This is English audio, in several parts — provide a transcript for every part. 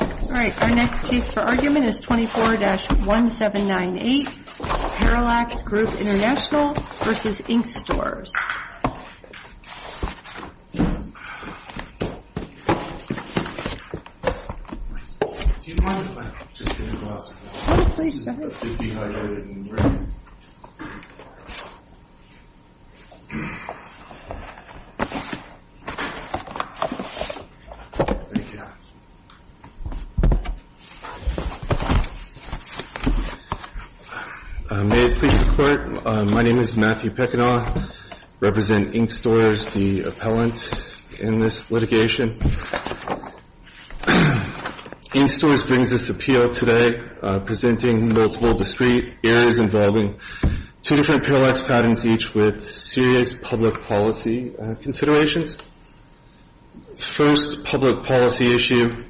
All right, our next case for argument is 24-1798 Parallax Group International v. Incstores Do you mind if I just get a glass of water? Oh, please go ahead. It's dehydrated and ready. Thank you. May it please the Court, my name is Matthew Peckinaw. I represent Incstores, the appellant in this litigation. Incstores brings this appeal today, presenting multiple discrete areas involving two different Parallax patents, each with serious public policy considerations. First public policy issue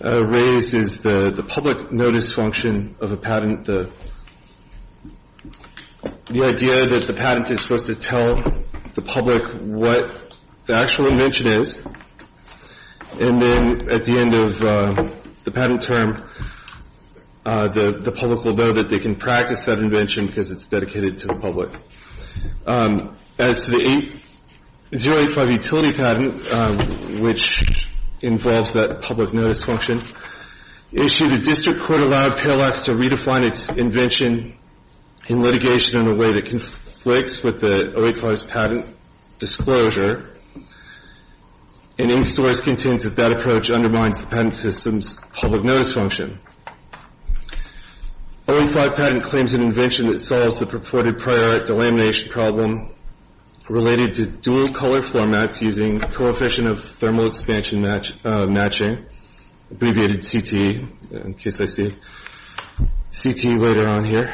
raised is the public notice function of a patent. The idea that the patent is supposed to tell the public what the actual invention is, and then at the end of the patent term the public will know that they can practice that invention because it's dedicated to the public. As to the 085 utility patent, which involves that public notice function, the issue the district court allowed Parallax to redefine its invention in litigation in a way that conflicts with the 085's patent disclosure, and Incstores contends that that approach undermines the patent system's public notice function. The 085 patent claims an invention that solves the purported prior delamination problem related to dual color formats using coefficient of thermal expansion matching, abbreviated CT in case I see CT later on here.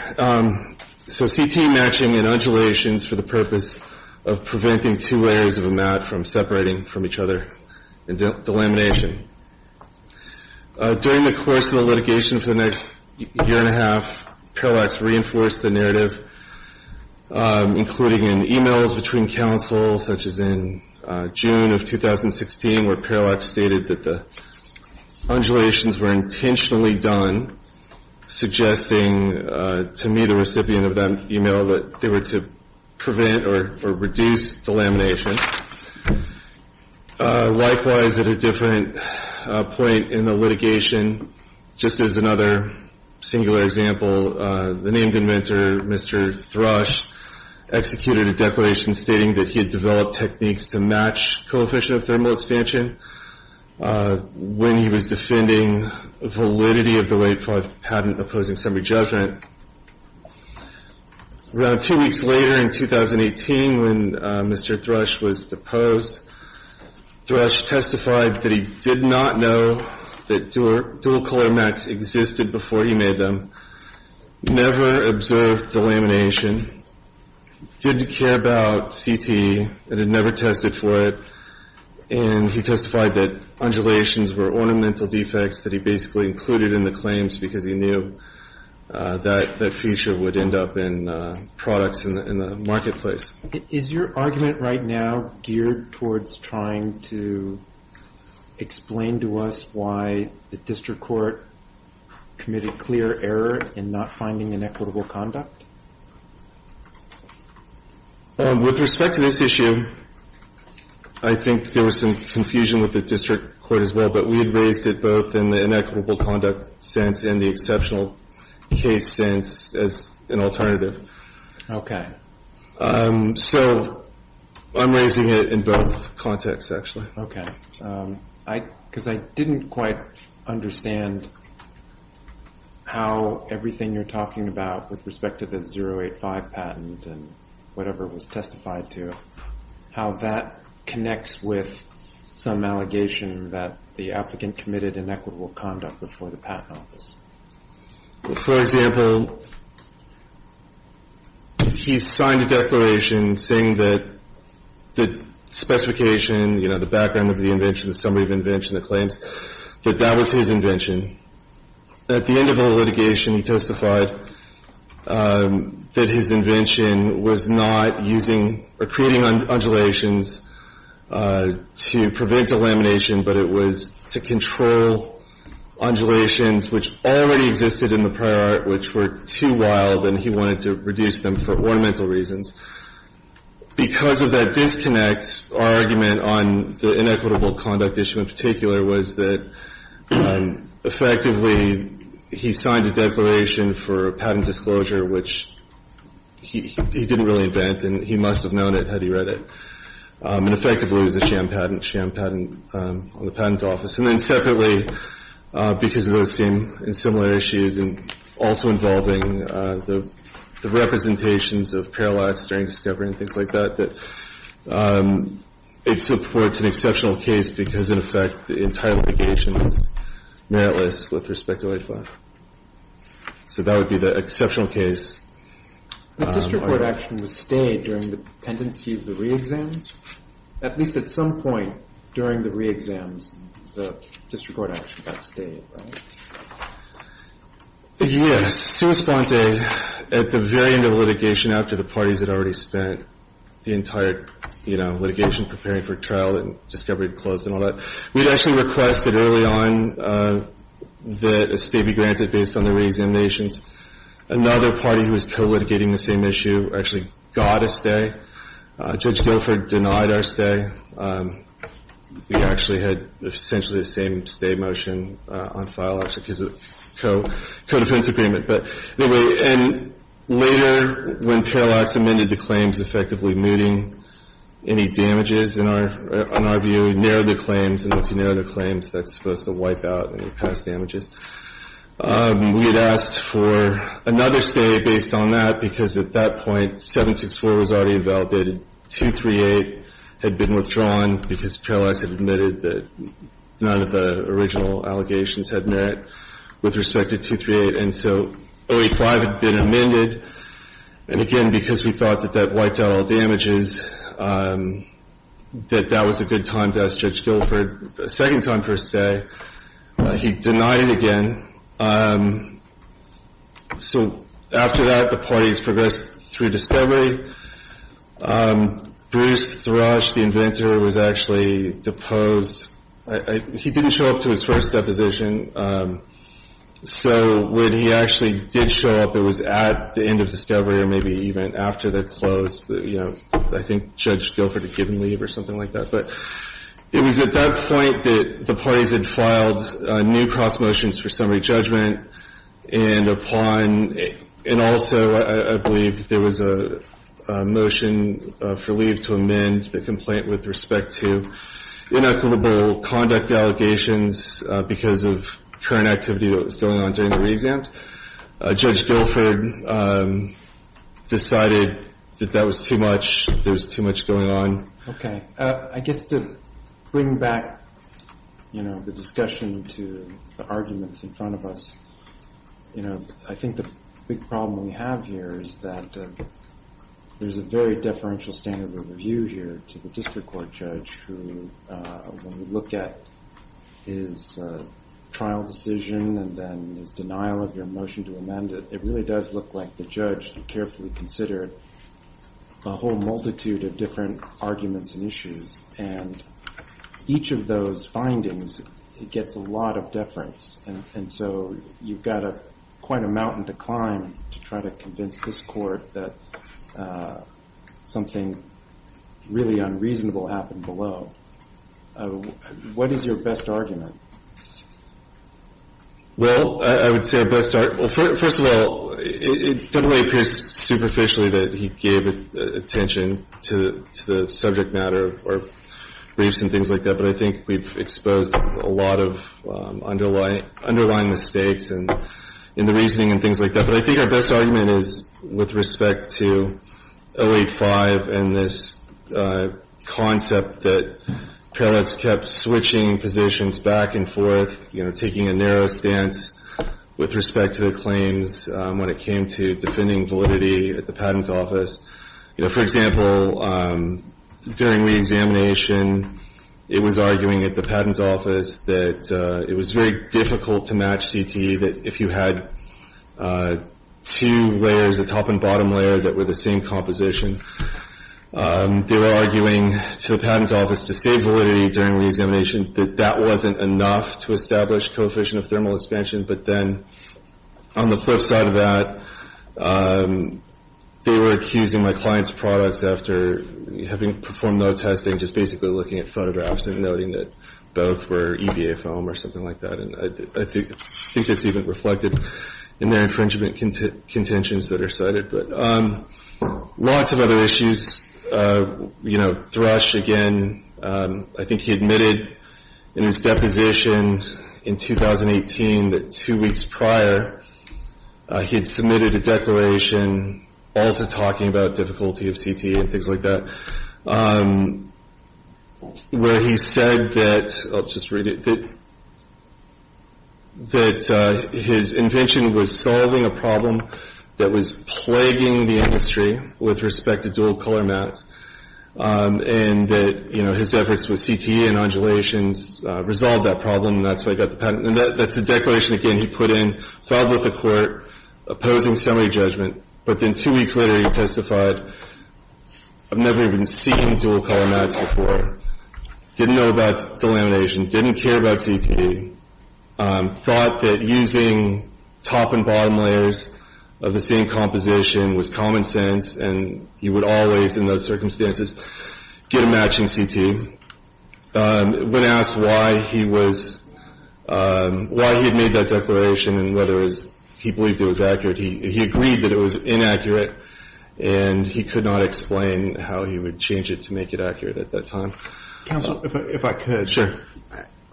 So CT matching and undulations for the purpose of preventing two layers of a mat from separating from each other in delamination. During the course of the litigation for the next year and a half, Parallax reinforced the narrative, including in e-mails between counsel, such as in June of 2016 where Parallax stated that the undulations were intentionally done, suggesting to me, the recipient of that e-mail, that they were to prevent or reduce delamination. Likewise, at a different point in the litigation, just as another singular example, the named inventor, Mr. Thrush, executed a declaration stating that he had developed techniques to match coefficient of thermal expansion when he was defending validity of the late patent opposing summary judgment. Around two weeks later in 2018, when Mr. Thrush was deposed, Thrush testified that he did not know that dual color mats existed before he made them, never observed delamination, didn't care about CT, and had never tested for it, and he testified that undulations were ornamental defects that he basically included in the claims because he knew that that feature would end up in products in the marketplace. Is your argument right now geared towards trying to explain to us why the district court committed clear error in not finding inequitable conduct? With respect to this issue, I think there was some confusion with the district court as well, but we had raised it both in the inequitable conduct sense and the exceptional case sense as an alternative. Okay. So I'm raising it in both contexts, actually. Okay. Because I didn't quite understand how everything you're talking about with respect to the 085 patent and whatever it was testified to, how that connects with some allegation that the applicant committed inequitable conduct before the patent office. For example, he signed a declaration saying that the specification, you know, the background of the invention, the summary of the invention, the claims, that that was his invention. At the end of the litigation, he testified that his invention was not using or creating undulations to prevent delamination, but it was to control undulations which already existed in the prior art, which were too wild, and he wanted to reduce them for ornamental reasons. Because of that disconnect, our argument on the inequitable conduct issue in particular was that effectively he signed a declaration for patent disclosure, which he didn't really invent, and he must have known it had he read it. And effectively, it was a sham patent, sham patent on the patent office. And then separately, because of those same and similar issues, and also involving the representations of parallax during discovery and things like that, it supports an exceptional case because, in effect, the entire litigation is meritless with respect to HVAC. So that would be the exceptional case. But district court action was stayed during the pendency of the re-exams? At least at some point during the re-exams, the district court action got stayed, right? Yes. Summa sponte, at the very end of litigation, after the parties had already spent the entire, you know, litigation preparing for trial and discovery closed and all that, we'd actually requested early on that a stay be granted based on the re-examinations. Another party who was co-litigating the same issue actually got a stay. Judge Guilford denied our stay. We actually had essentially the same stay motion on file, actually, because of co-defense agreement. But anyway, and later, when parallax amended the claims, effectively mooting any damages, in our view, narrowed the claims. And once you narrow the claims, that's supposed to wipe out any past damages. We had asked for another stay based on that because, at that point, 764 was already invalidated. 238 had been withdrawn because parallax had admitted that none of the original allegations had merit with respect to 238. And so 085 had been amended. And again, because we thought that that wiped out all damages, that that was a good time to ask Judge Guilford a second time for a stay. He denied it again. So after that, the parties progressed through discovery. Bruce Thrush, the inventor, was actually deposed. He didn't show up to his first deposition. So when he actually did show up, it was at the end of discovery or maybe even after they're closed. You know, I think Judge Guilford had given leave or something like that. But it was at that point that the parties had filed new cross motions for summary judgment. And also, I believe there was a motion for leave to amend the complaint with respect to inequitable conduct allegations because of current activity that was going on during the reexams. Judge Guilford decided that that was too much, there was too much going on. Okay. I guess to bring back, you know, the discussion to the arguments in front of us, you know, I think the big problem we have here is that there's a very deferential standard of review here to the district court judge who, when you look at his trial decision and then his denial of your motion to amend it, it really does look like the judge carefully considered a whole multitude of different arguments and issues. And each of those findings, it gets a lot of deference. And so you've got quite a mountain to climb to try to convince this court that something really unreasonable happened below. What is your best argument? Well, I would say our best argument, well, first of all, it definitely appears superficially that he gave attention to the subject matter or briefs and things like that. But I think we've exposed a lot of underlying mistakes in the reasoning and things like that. But I think our best argument is with respect to 08-5 and this concept that Paradox kept switching positions back and forth, you know, taking a narrow stance with respect to the claims when it came to defending validity at the Patent Office. You know, for example, during reexamination, it was arguing at the Patent Office that it was very difficult to match CTE, that if you had two layers, a top and bottom layer that were the same composition, they were arguing to the Patent Office to say validity during reexamination, that that wasn't enough to establish coefficient of thermal expansion. But then on the flip side of that, they were accusing my client's products after having performed no testing, just basically looking at photographs and noting that both were EVA foam or something like that. And I think it's even reflected in their infringement contentions that are cited. But lots of other issues. You know, Thrush, again, I think he admitted in his deposition in 2018 that two weeks prior, he had submitted a declaration also talking about difficulty of CTE and things like that, where he said that, I'll just read it, that his invention was solving a problem that was plaguing the industry with respect to dual color mattes, and that, you know, his efforts with CTE and undulations resolved that problem, and that's why he got the patent. And that's the declaration, again, he put in, filed with the court, opposing summary judgment. But then two weeks later, he testified, I've never even seen dual color mattes before, didn't know about delamination, didn't care about CTE, thought that using top and bottom layers of the same composition was common sense, and you would always, in those circumstances, get a matching CTE. When asked why he had made that declaration and whether he believed it was accurate, he agreed that it was inaccurate, and he could not explain how he would change it to make it accurate at that time. Counsel, if I could.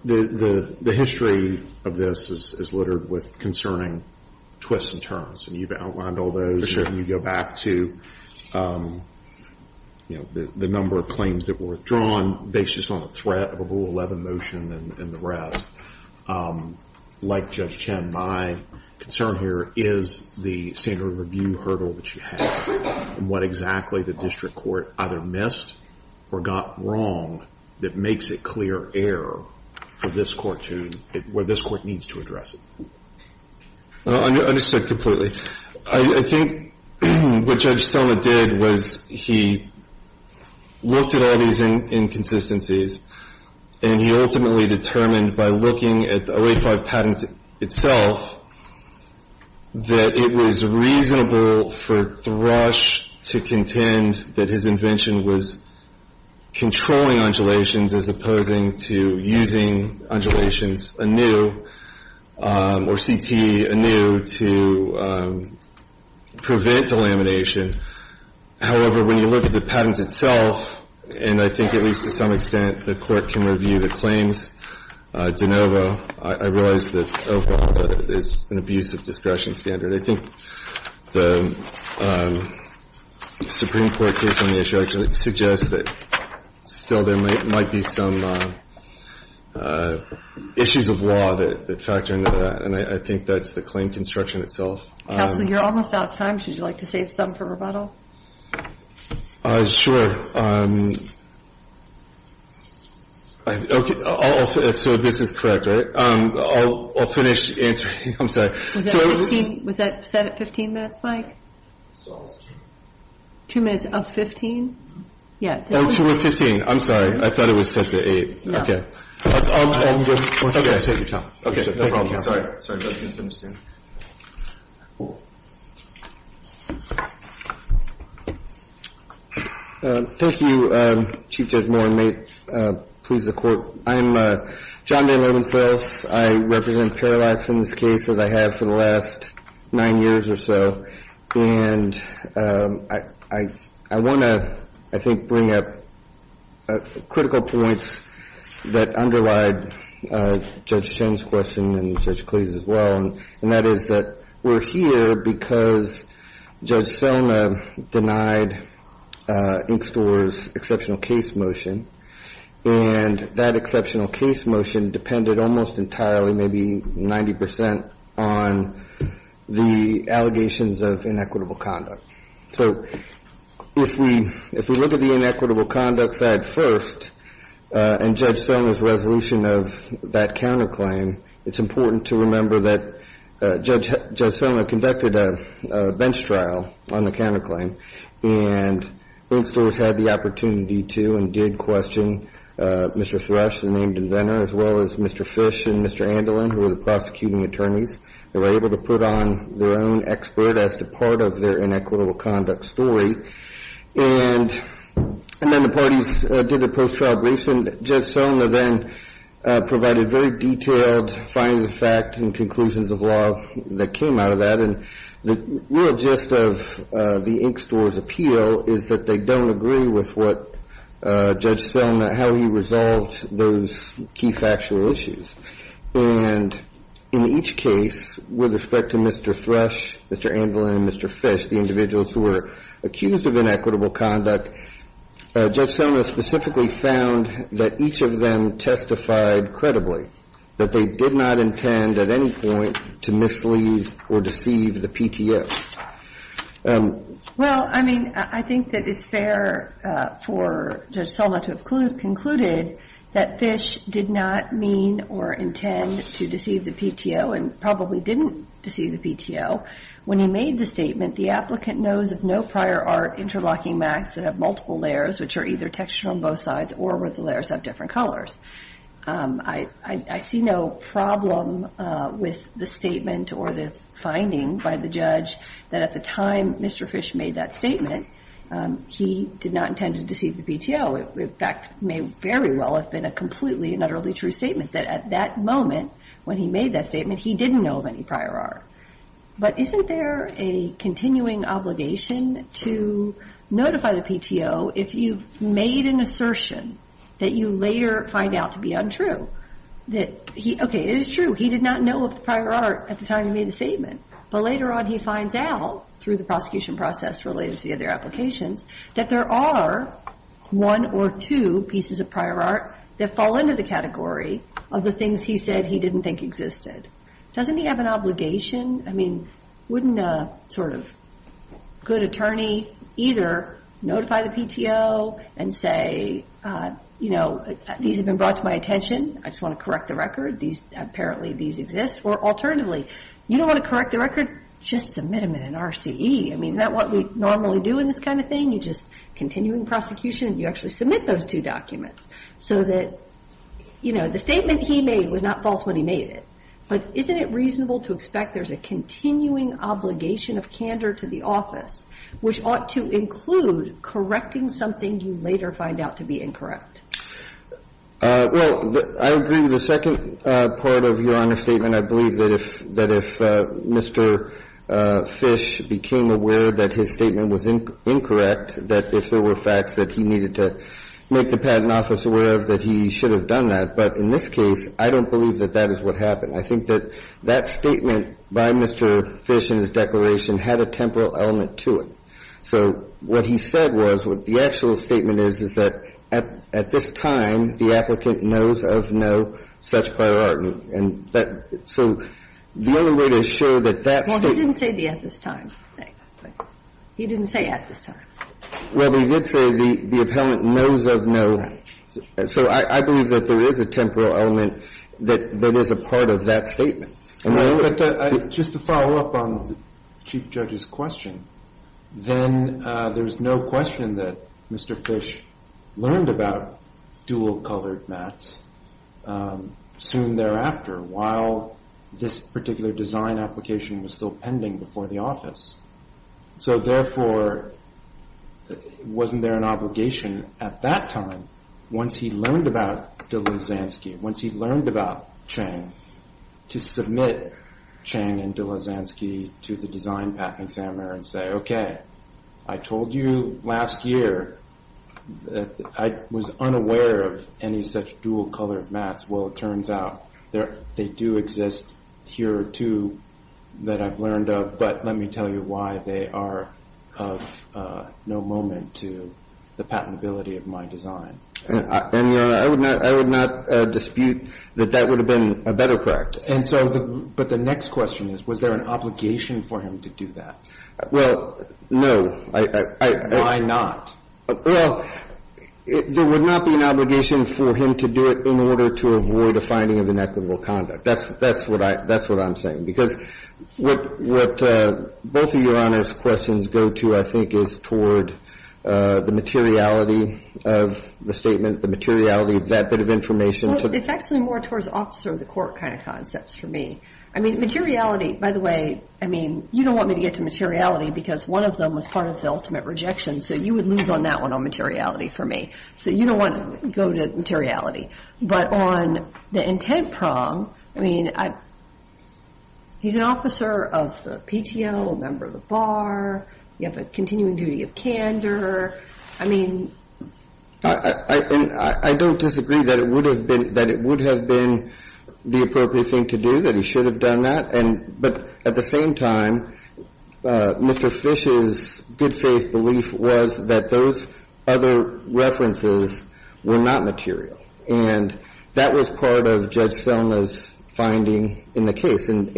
The history of this is littered with concerning twists and turns, and you've outlined all those. And you go back to, you know, the number of claims that were withdrawn based just on the threat of a Rule 11 motion and the rest. Like Judge Chen, my concern here is the standard review hurdle that you have and what exactly the district court either missed or got wrong that makes it clear error for this court to, where this court needs to address it. I understand completely. I think what Judge Sona did was he looked at all these inconsistencies, and he ultimately determined by looking at the 085 patent itself that it was reasonable for Thrush to contend that his invention was controlling undulations as opposing to using undulations anew or CTE anew to prevent delamination. However, when you look at the patent itself, and I think at least to some extent the Court can review the claims de novo, I realize that overall there's an abuse of discretion standard. I think the Supreme Court case on the issue actually suggests that still there might be some issues of law that factor into that, and I think that's the claim construction itself. Counsel, you're almost out of time. Would you like to save some for rebuttal? Sure. So this is correct, right? I'll finish answering. I'm sorry. Was that set at 15 minutes, Mike? Two minutes of 15? I'm sorry. I thought it was set to eight. I'll take your time. Okay. No problem. Thank you, Chief Judge Moore, and may it please the Court. I'm John Day-Lewinsales. I represent Parallax in this case, as I have for the last nine years or so, and I want to, I think, bring up critical points that underlie Judge Chen's question and Judge Cleese's as well, and that is that we're here because Judge Selma denied Ink Store's exceptional case motion, and that exceptional case motion depended almost entirely, maybe 90 percent, on the allegations of inequitable conduct. So if we look at the inequitable conduct side first, and Judge Selma's resolution of that counterclaim, it's important to remember that Judge Selma conducted a bench trial on the counterclaim, and Ink Store's had the opportunity to and did question Mr. Thrush, the named inventor, as well as Mr. Thrush and Mr. Andelin, who were the prosecuting attorneys. They were able to put on their own expert as to part of their inequitable conduct story, and then the parties did a post-trial brief, and Judge Selma then provided very detailed findings of fact and conclusions of law that came out of that, and the real gist of the Ink Store's appeal is that they don't agree with what Judge Selma, how he resolved those key factual issues. And in each case, with respect to Mr. Thrush, Mr. Andelin, and Mr. Fish, the individuals who were accused of inequitable conduct, Judge Selma specifically found that each of them testified credibly, that they did not intend at any point to mislead or deceive the PTS. Well, I mean, I think that it's fair for Judge Selma to have concluded that Fish did not mean or intend to deceive the PTO and probably didn't deceive the PTO. When he made the statement, the applicant knows of no prior art interlocking masks that have multiple layers, which are either textured on both sides or where the layers have different colors. I see no problem with the statement or the finding by the judge that at the time Mr. Fish made that statement, he did not intend to deceive the PTO. In fact, it may very well have been a completely and utterly true statement that at that moment, when he made that statement, he didn't know of any prior art. But isn't there a continuing obligation to notify the PTO if you've made an assertion that you later find out to be untrue? Okay, it is true he did not know of the prior art at the time he made the statement, but later on he finds out through the prosecution process related to the other applications that there are one or two pieces of prior art that fall into the category of the things he said he didn't think existed. Doesn't he have an obligation? I mean, wouldn't a sort of good attorney either notify the PTO and say, you know, these have been brought to my attention, I just want to correct the record, apparently these exist, or alternatively, you don't want to correct the record, just submit them in an RCE. I mean, isn't that what we normally do in this kind of thing? You just continue in prosecution and you actually submit those two documents so that, you know, the statement he made was not false when he made it. But isn't it reasonable to expect there's a continuing obligation of candor to the office which ought to include correcting something you later find out to be incorrect? Well, I agree with the second part of Your Honor's statement. I believe that if Mr. Fish became aware that his statement was incorrect, that if there were facts that he needed to make the patent office aware of, that he should have done that. But in this case, I don't believe that that is what happened. I think that that statement by Mr. Fish in his declaration had a temporal element to it. So what he said was, what the actual statement is, is that at this time, the applicant knows of no such prior argument. And that so the only way to assure that that statement Well, he didn't say the at this time thing. He didn't say at this time. Well, he did say the appellant knows of no. So I believe that there is a temporal element that is a part of that statement. Just to follow up on the Chief Judge's question, then there is no question that Mr. Fish learned about dual colored mats soon thereafter while this particular design application was still pending before the office. So therefore, wasn't there an obligation at that time, once he learned about Dilazansky, once he learned about Chang, to submit Chang and Dilazansky to the design patent examiner and say, okay, I told you last year that I was unaware of any such dual colored mats. Well, it turns out they do exist here too that I've learned of. But let me tell you why they are of no moment to the patentability of my design. And I would not dispute that that would have been a better practice. But the next question is, was there an obligation for him to do that? Well, no. Why not? Well, there would not be an obligation for him to do it in order to avoid a finding of inequitable conduct. That's what I'm saying. Because what both of your honest questions go to, I think, is toward the materiality of the statement, the materiality of that bit of information. It's actually more towards the officer of the court kind of concepts for me. I mean, materiality, by the way, I mean, you don't want me to get to materiality because one of them was part of the ultimate rejection, so you would lose on that one on materiality for me. So you don't want to go to materiality. But on the intent prong, I mean, he's an officer of the PTO, a member of the bar. You have a continuing duty of candor. I mean ---- I don't disagree that it would have been the appropriate thing to do, that he should have done that. But at the same time, Mr. Fish's good faith belief was that those other references were not material. And that was part of Judge Selma's finding in the case. And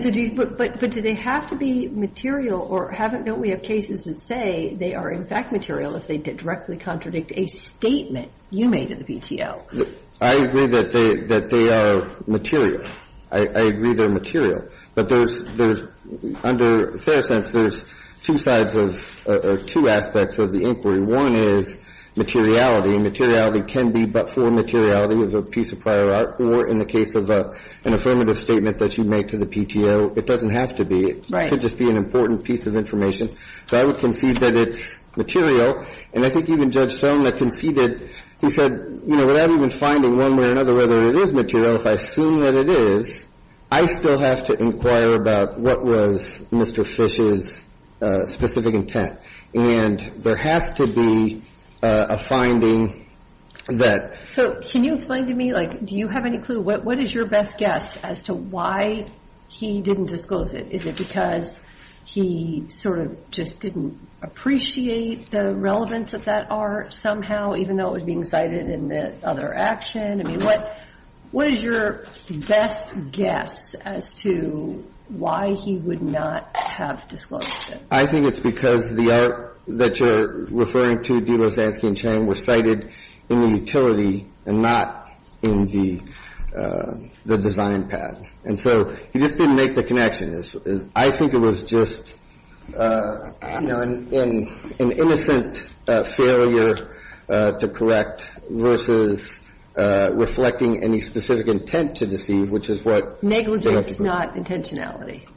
so do you ---- But do they have to be material or haven't we had cases that say they are in fact material if they directly contradict a statement you made at the PTO? I agree that they are material. I agree they're material. But there's under Fair Sense, there's two sides of or two aspects of the inquiry. One is materiality, and materiality can be but for materiality of a piece of prior art. Or in the case of an affirmative statement that you make to the PTO, it doesn't have to be. It could just be an important piece of information. So I would concede that it's material. And I think even Judge Selma conceded, he said, you know, without even finding one way or another whether it is material, if I assume that it is, I still have to inquire about what was Mr. Fish's specific intent. And there has to be a finding that ---- So can you explain to me, like, do you have any clue? What is your best guess as to why he didn't disclose it? Is it because he sort of just didn't appreciate the relevance of that art somehow, even though it was being cited in the other action? I mean, what is your best guess as to why he would not have disclosed it? I think it's because the art that you're referring to, Duloszanski and Chang, were cited in the utility and not in the design pad. And so he just didn't make the connection. I think it was just an innocent failure to correct versus reflecting any specific intent to deceive, which is what ---- Negligence, not intentionality.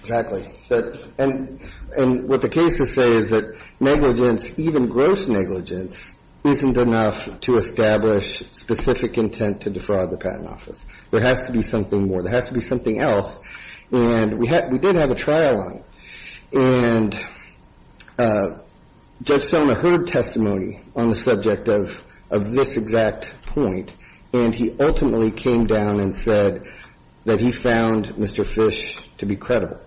Exactly. And what the cases say is that negligence, even gross negligence, isn't enough to establish specific intent to defraud the Patent Office. There has to be something more. There has to be something else. And we did have a trial on it. And Judge Sona heard testimony on the subject of this exact point, and he ultimately came down and said that he found Mr. Fish to be credible.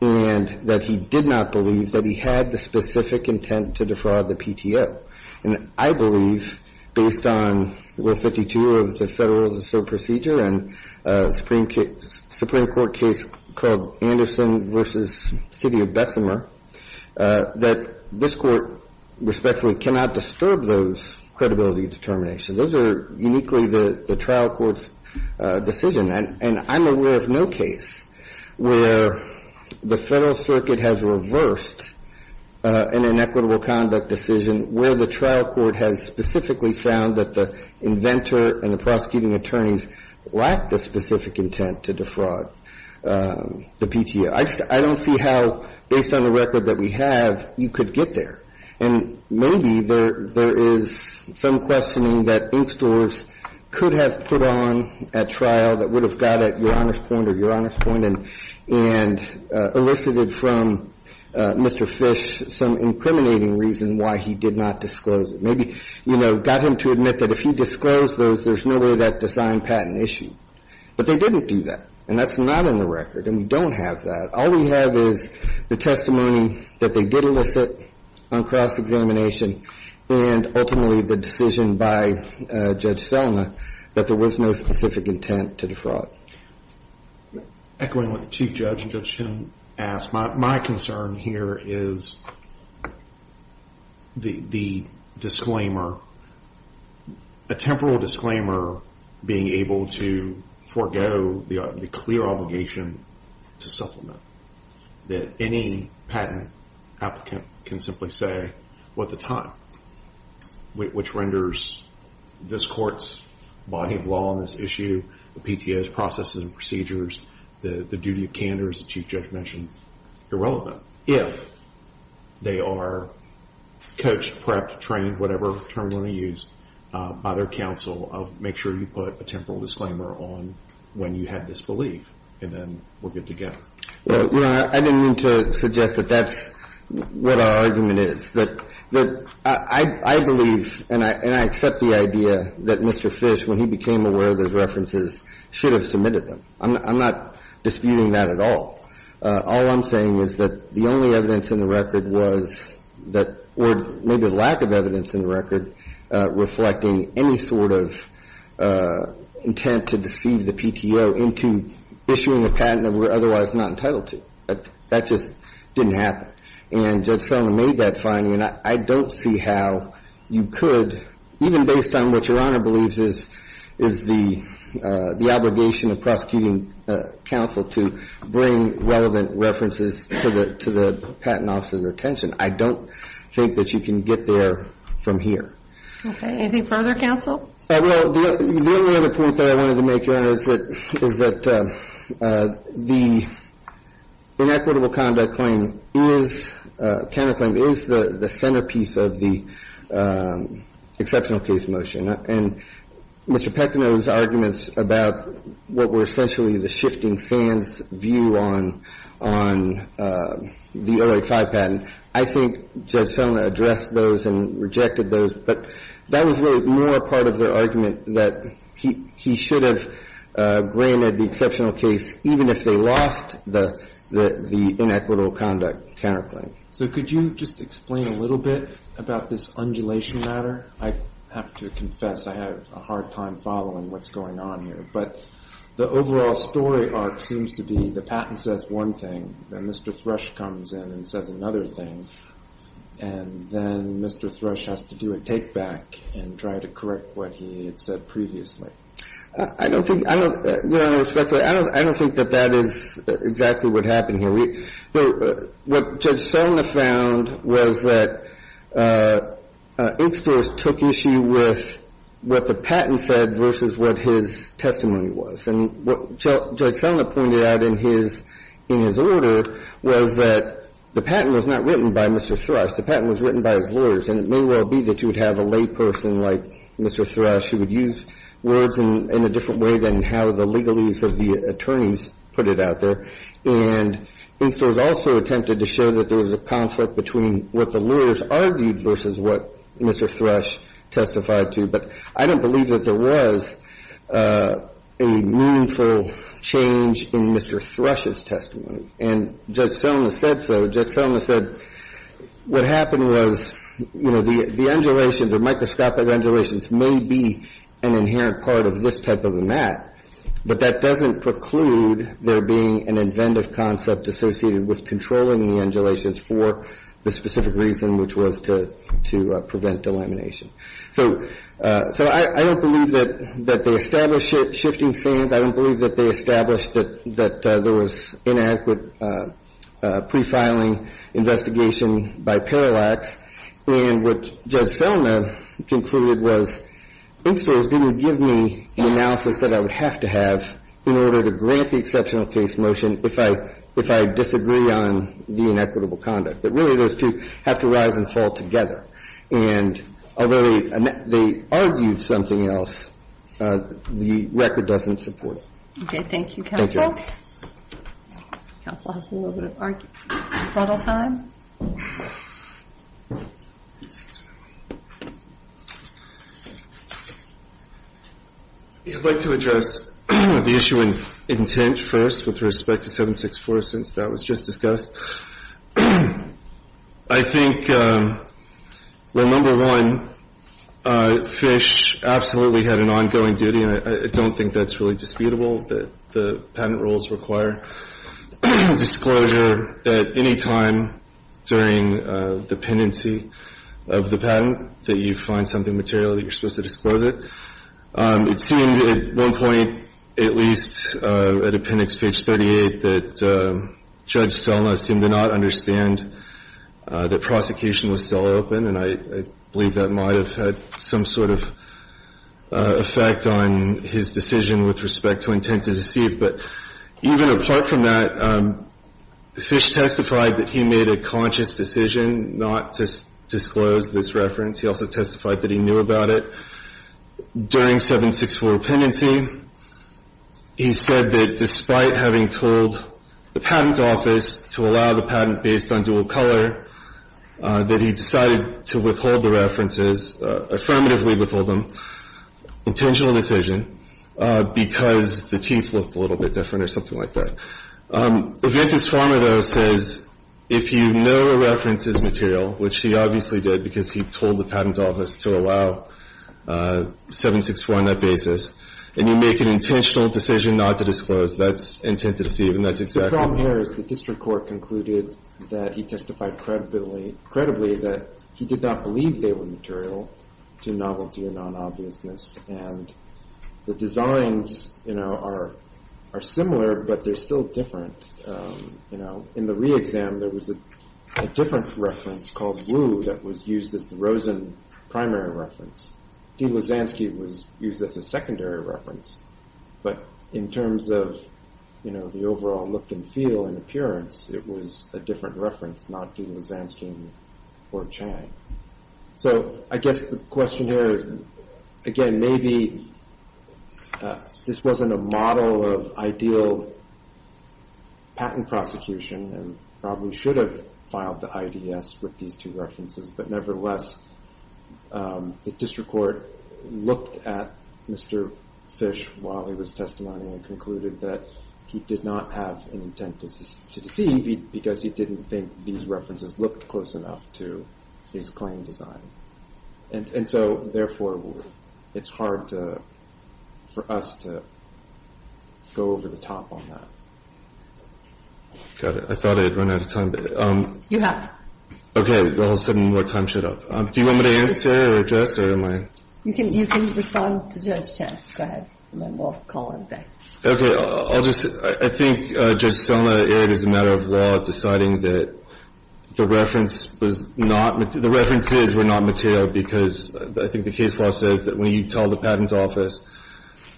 And that he did not believe that he had the specific intent to defraud the PTO. And I believe, based on Rule 52 of the Federal Rules of Procedure and a Supreme Court case called Anderson v. City of Bessemer, that this Court respectfully cannot disturb those credibility determinations. Those are uniquely the trial court's decision. And I'm aware of no case where the Federal Circuit has reversed an inequitable conduct decision where the trial court has specifically found that the inventor and the prosecuting attorneys lack the specific intent to defraud the PTO. I don't see how, based on the record that we have, you could get there. And maybe there is some questioning that ink stores could have put on at trial that would have got at your honest point or your honest point and elicited from Mr. Fish some incriminating reason why he did not disclose it. Maybe, you know, got him to admit that if he disclosed those, there's no way that the signed patent issued. But they didn't do that. And that's not in the record. And we don't have that. All we have is the testimony that they did elicit on cross-examination and ultimately the decision by Judge Stelma that there was no specific intent to defraud. Echoing what the Chief Judge and Judge Kim asked, my concern here is the disclaimer, a temporal disclaimer being able to forego the clear obligation to supplement, that any patent applicant can simply say what the time, which renders this court's body of law on this issue, the PTO's processes and procedures, the duty of candor, as the Chief Judge mentioned, irrelevant. If they are coached, prepped, trained, whatever term you want to use, by their counsel, make sure you put a temporal disclaimer on when you had this belief. And then we'll get together. Well, you know, I didn't mean to suggest that that's what our argument is. But I believe and I accept the idea that Mr. Fish, when he became aware of those references, should have submitted them. I'm not disputing that at all. All I'm saying is that the only evidence in the record was that, or maybe the lack of evidence in the record, reflecting any sort of intent to deceive the PTO into issuing a patent that we're otherwise not entitled to. That just didn't happen. And Judge Selma made that finding, and I don't see how you could, even based on what Your Honor believes is the obligation of prosecuting counsel to bring relevant references to the patent officer's attention, I don't think that you can get there from here. Okay. Anything further, counsel? Well, the only other point that I wanted to make, Your Honor, is that the inequitable conduct claim is, counterclaim is the centerpiece of the exceptional case motion. And Mr. Pecono's arguments about what were essentially the shifting sands view on the 085 patent, I think Judge Selma addressed those and rejected those, but that was really more a part of their argument that he should have granted the exceptional case, even if they lost the inequitable conduct counterclaim. So could you just explain a little bit about this undulation matter? I have to confess I have a hard time following what's going on here, but the overall story arc seems to be the patent says one thing, then Mr. Thrush comes in and says another thing, and then Mr. Thrush has to do a take-back and try to correct what he had said previously. I don't think, Your Honor, respectfully, I don't think that that is exactly what happened here. What Judge Selma found was that Institute took issue with what the patent said versus what his testimony was. And what Judge Selma pointed out in his order was that the patent was not written by Mr. Thrush. The patent was written by his lawyers, and it may well be that you would have a layperson like Mr. Thrush who would use words in a different way than how the legalese of the attorneys put it out there. And Institute also attempted to show that there was a conflict between what the lawyers argued versus what Mr. Thrush testified to. But I don't believe that there was a meaningful change in Mr. Thrush's testimony. And Judge Selma said so. Judge Selma said what happened was, you know, the undulations or microscopic undulations may be an inherent part of this type of a mat, but that doesn't preclude there being an inventive concept associated with controlling the undulations for the specific reason which was to prevent delamination. So I don't believe that they established shifting stands. I don't believe that they established that there was inadequate pre-filing investigation by parallax. And what Judge Selma concluded was, Institutes didn't give me the analysis that I would have to have in order to grant the exceptional case motion if I disagree on the inequitable conduct, that really those two have to rise and fall together. And although they argued something else, the record doesn't support it. Okay. Thank you, counsel. Thank you. Counsel has a little bit of time. I'd like to address the issue of intent first with respect to 764 since that was just discussed. I think, well, number one, Fish absolutely had an ongoing duty, and I don't think that's really disputable that the patent rules require disclosure at any time during the pendency of the patent that you find something material that you're supposed to disclose it. It seemed at one point, at least at appendix page 38, that Judge Selma seemed to not understand that prosecution was still open, and I believe that might have had some sort of effect on his decision with respect to intent to deceive. But even apart from that, Fish testified that he made a conscious decision not to disclose this reference. He also testified that he knew about it. During 764 pendency, he said that despite having told the patent office to allow the patent based on dual color, that he decided to withhold the references, affirmatively withhold them, intentional decision, because the teeth looked a little bit different or something like that. Eventus Farmer, though, says if you know a reference's material, which he obviously did because he told the patent office to allow 764 on that basis, and you make an intentional decision not to disclose, that's intent to deceive, and that's exactly true. The problem here is the district court concluded that he testified credibly that he did not believe they were material to novelty or non-obviousness, and the designs, you know, are similar, but they're still different. In the re-exam, there was a different reference called Wu that was used as the Rosen primary reference. D. Lasansky was used as a secondary reference, but in terms of the overall look and feel and appearance, it was a different reference, not D. Lasansky or Chang. So I guess the question here is, again, maybe this wasn't a model of ideal patent prosecution and probably should have filed the IDS with these two references, but nevertheless the district court looked at Mr. Fish while he was testimony and concluded that he did not have an intent to deceive because he didn't think these references looked close enough to his claim design. And so therefore, it's hard for us to go over the top on that. Got it. I thought I had run out of time. You have. Okay. All of a sudden, my time shut up. Do you want me to answer or address or am I? You can respond to Judge Chang. Go ahead. We'll call on him back. Okay. I'll just say, I think Judge Selna, it is a matter of law deciding that the reference was not material. The references were not material because I think the case law says that when you tell the patent office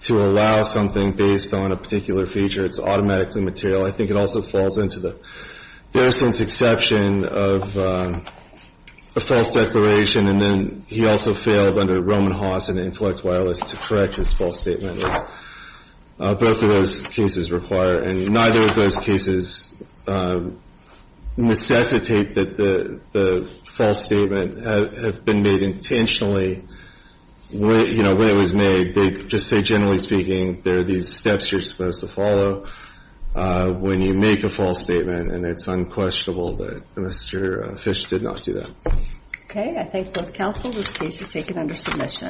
to allow something based on a particular feature, it's automatically material. I think it also falls into the Feruson's exception of a false declaration, and then he also failed under Roman Haas in Intellect Wireless to correct his false statement. Both of those cases require, and neither of those cases necessitate that the false statement have been made intentionally when it was made. They just say, generally speaking, there are these steps you're supposed to follow when you make a false statement, and it's unquestionable that Mr. Fish did not do that. Okay. I thank both counsel. This case was taken under submission.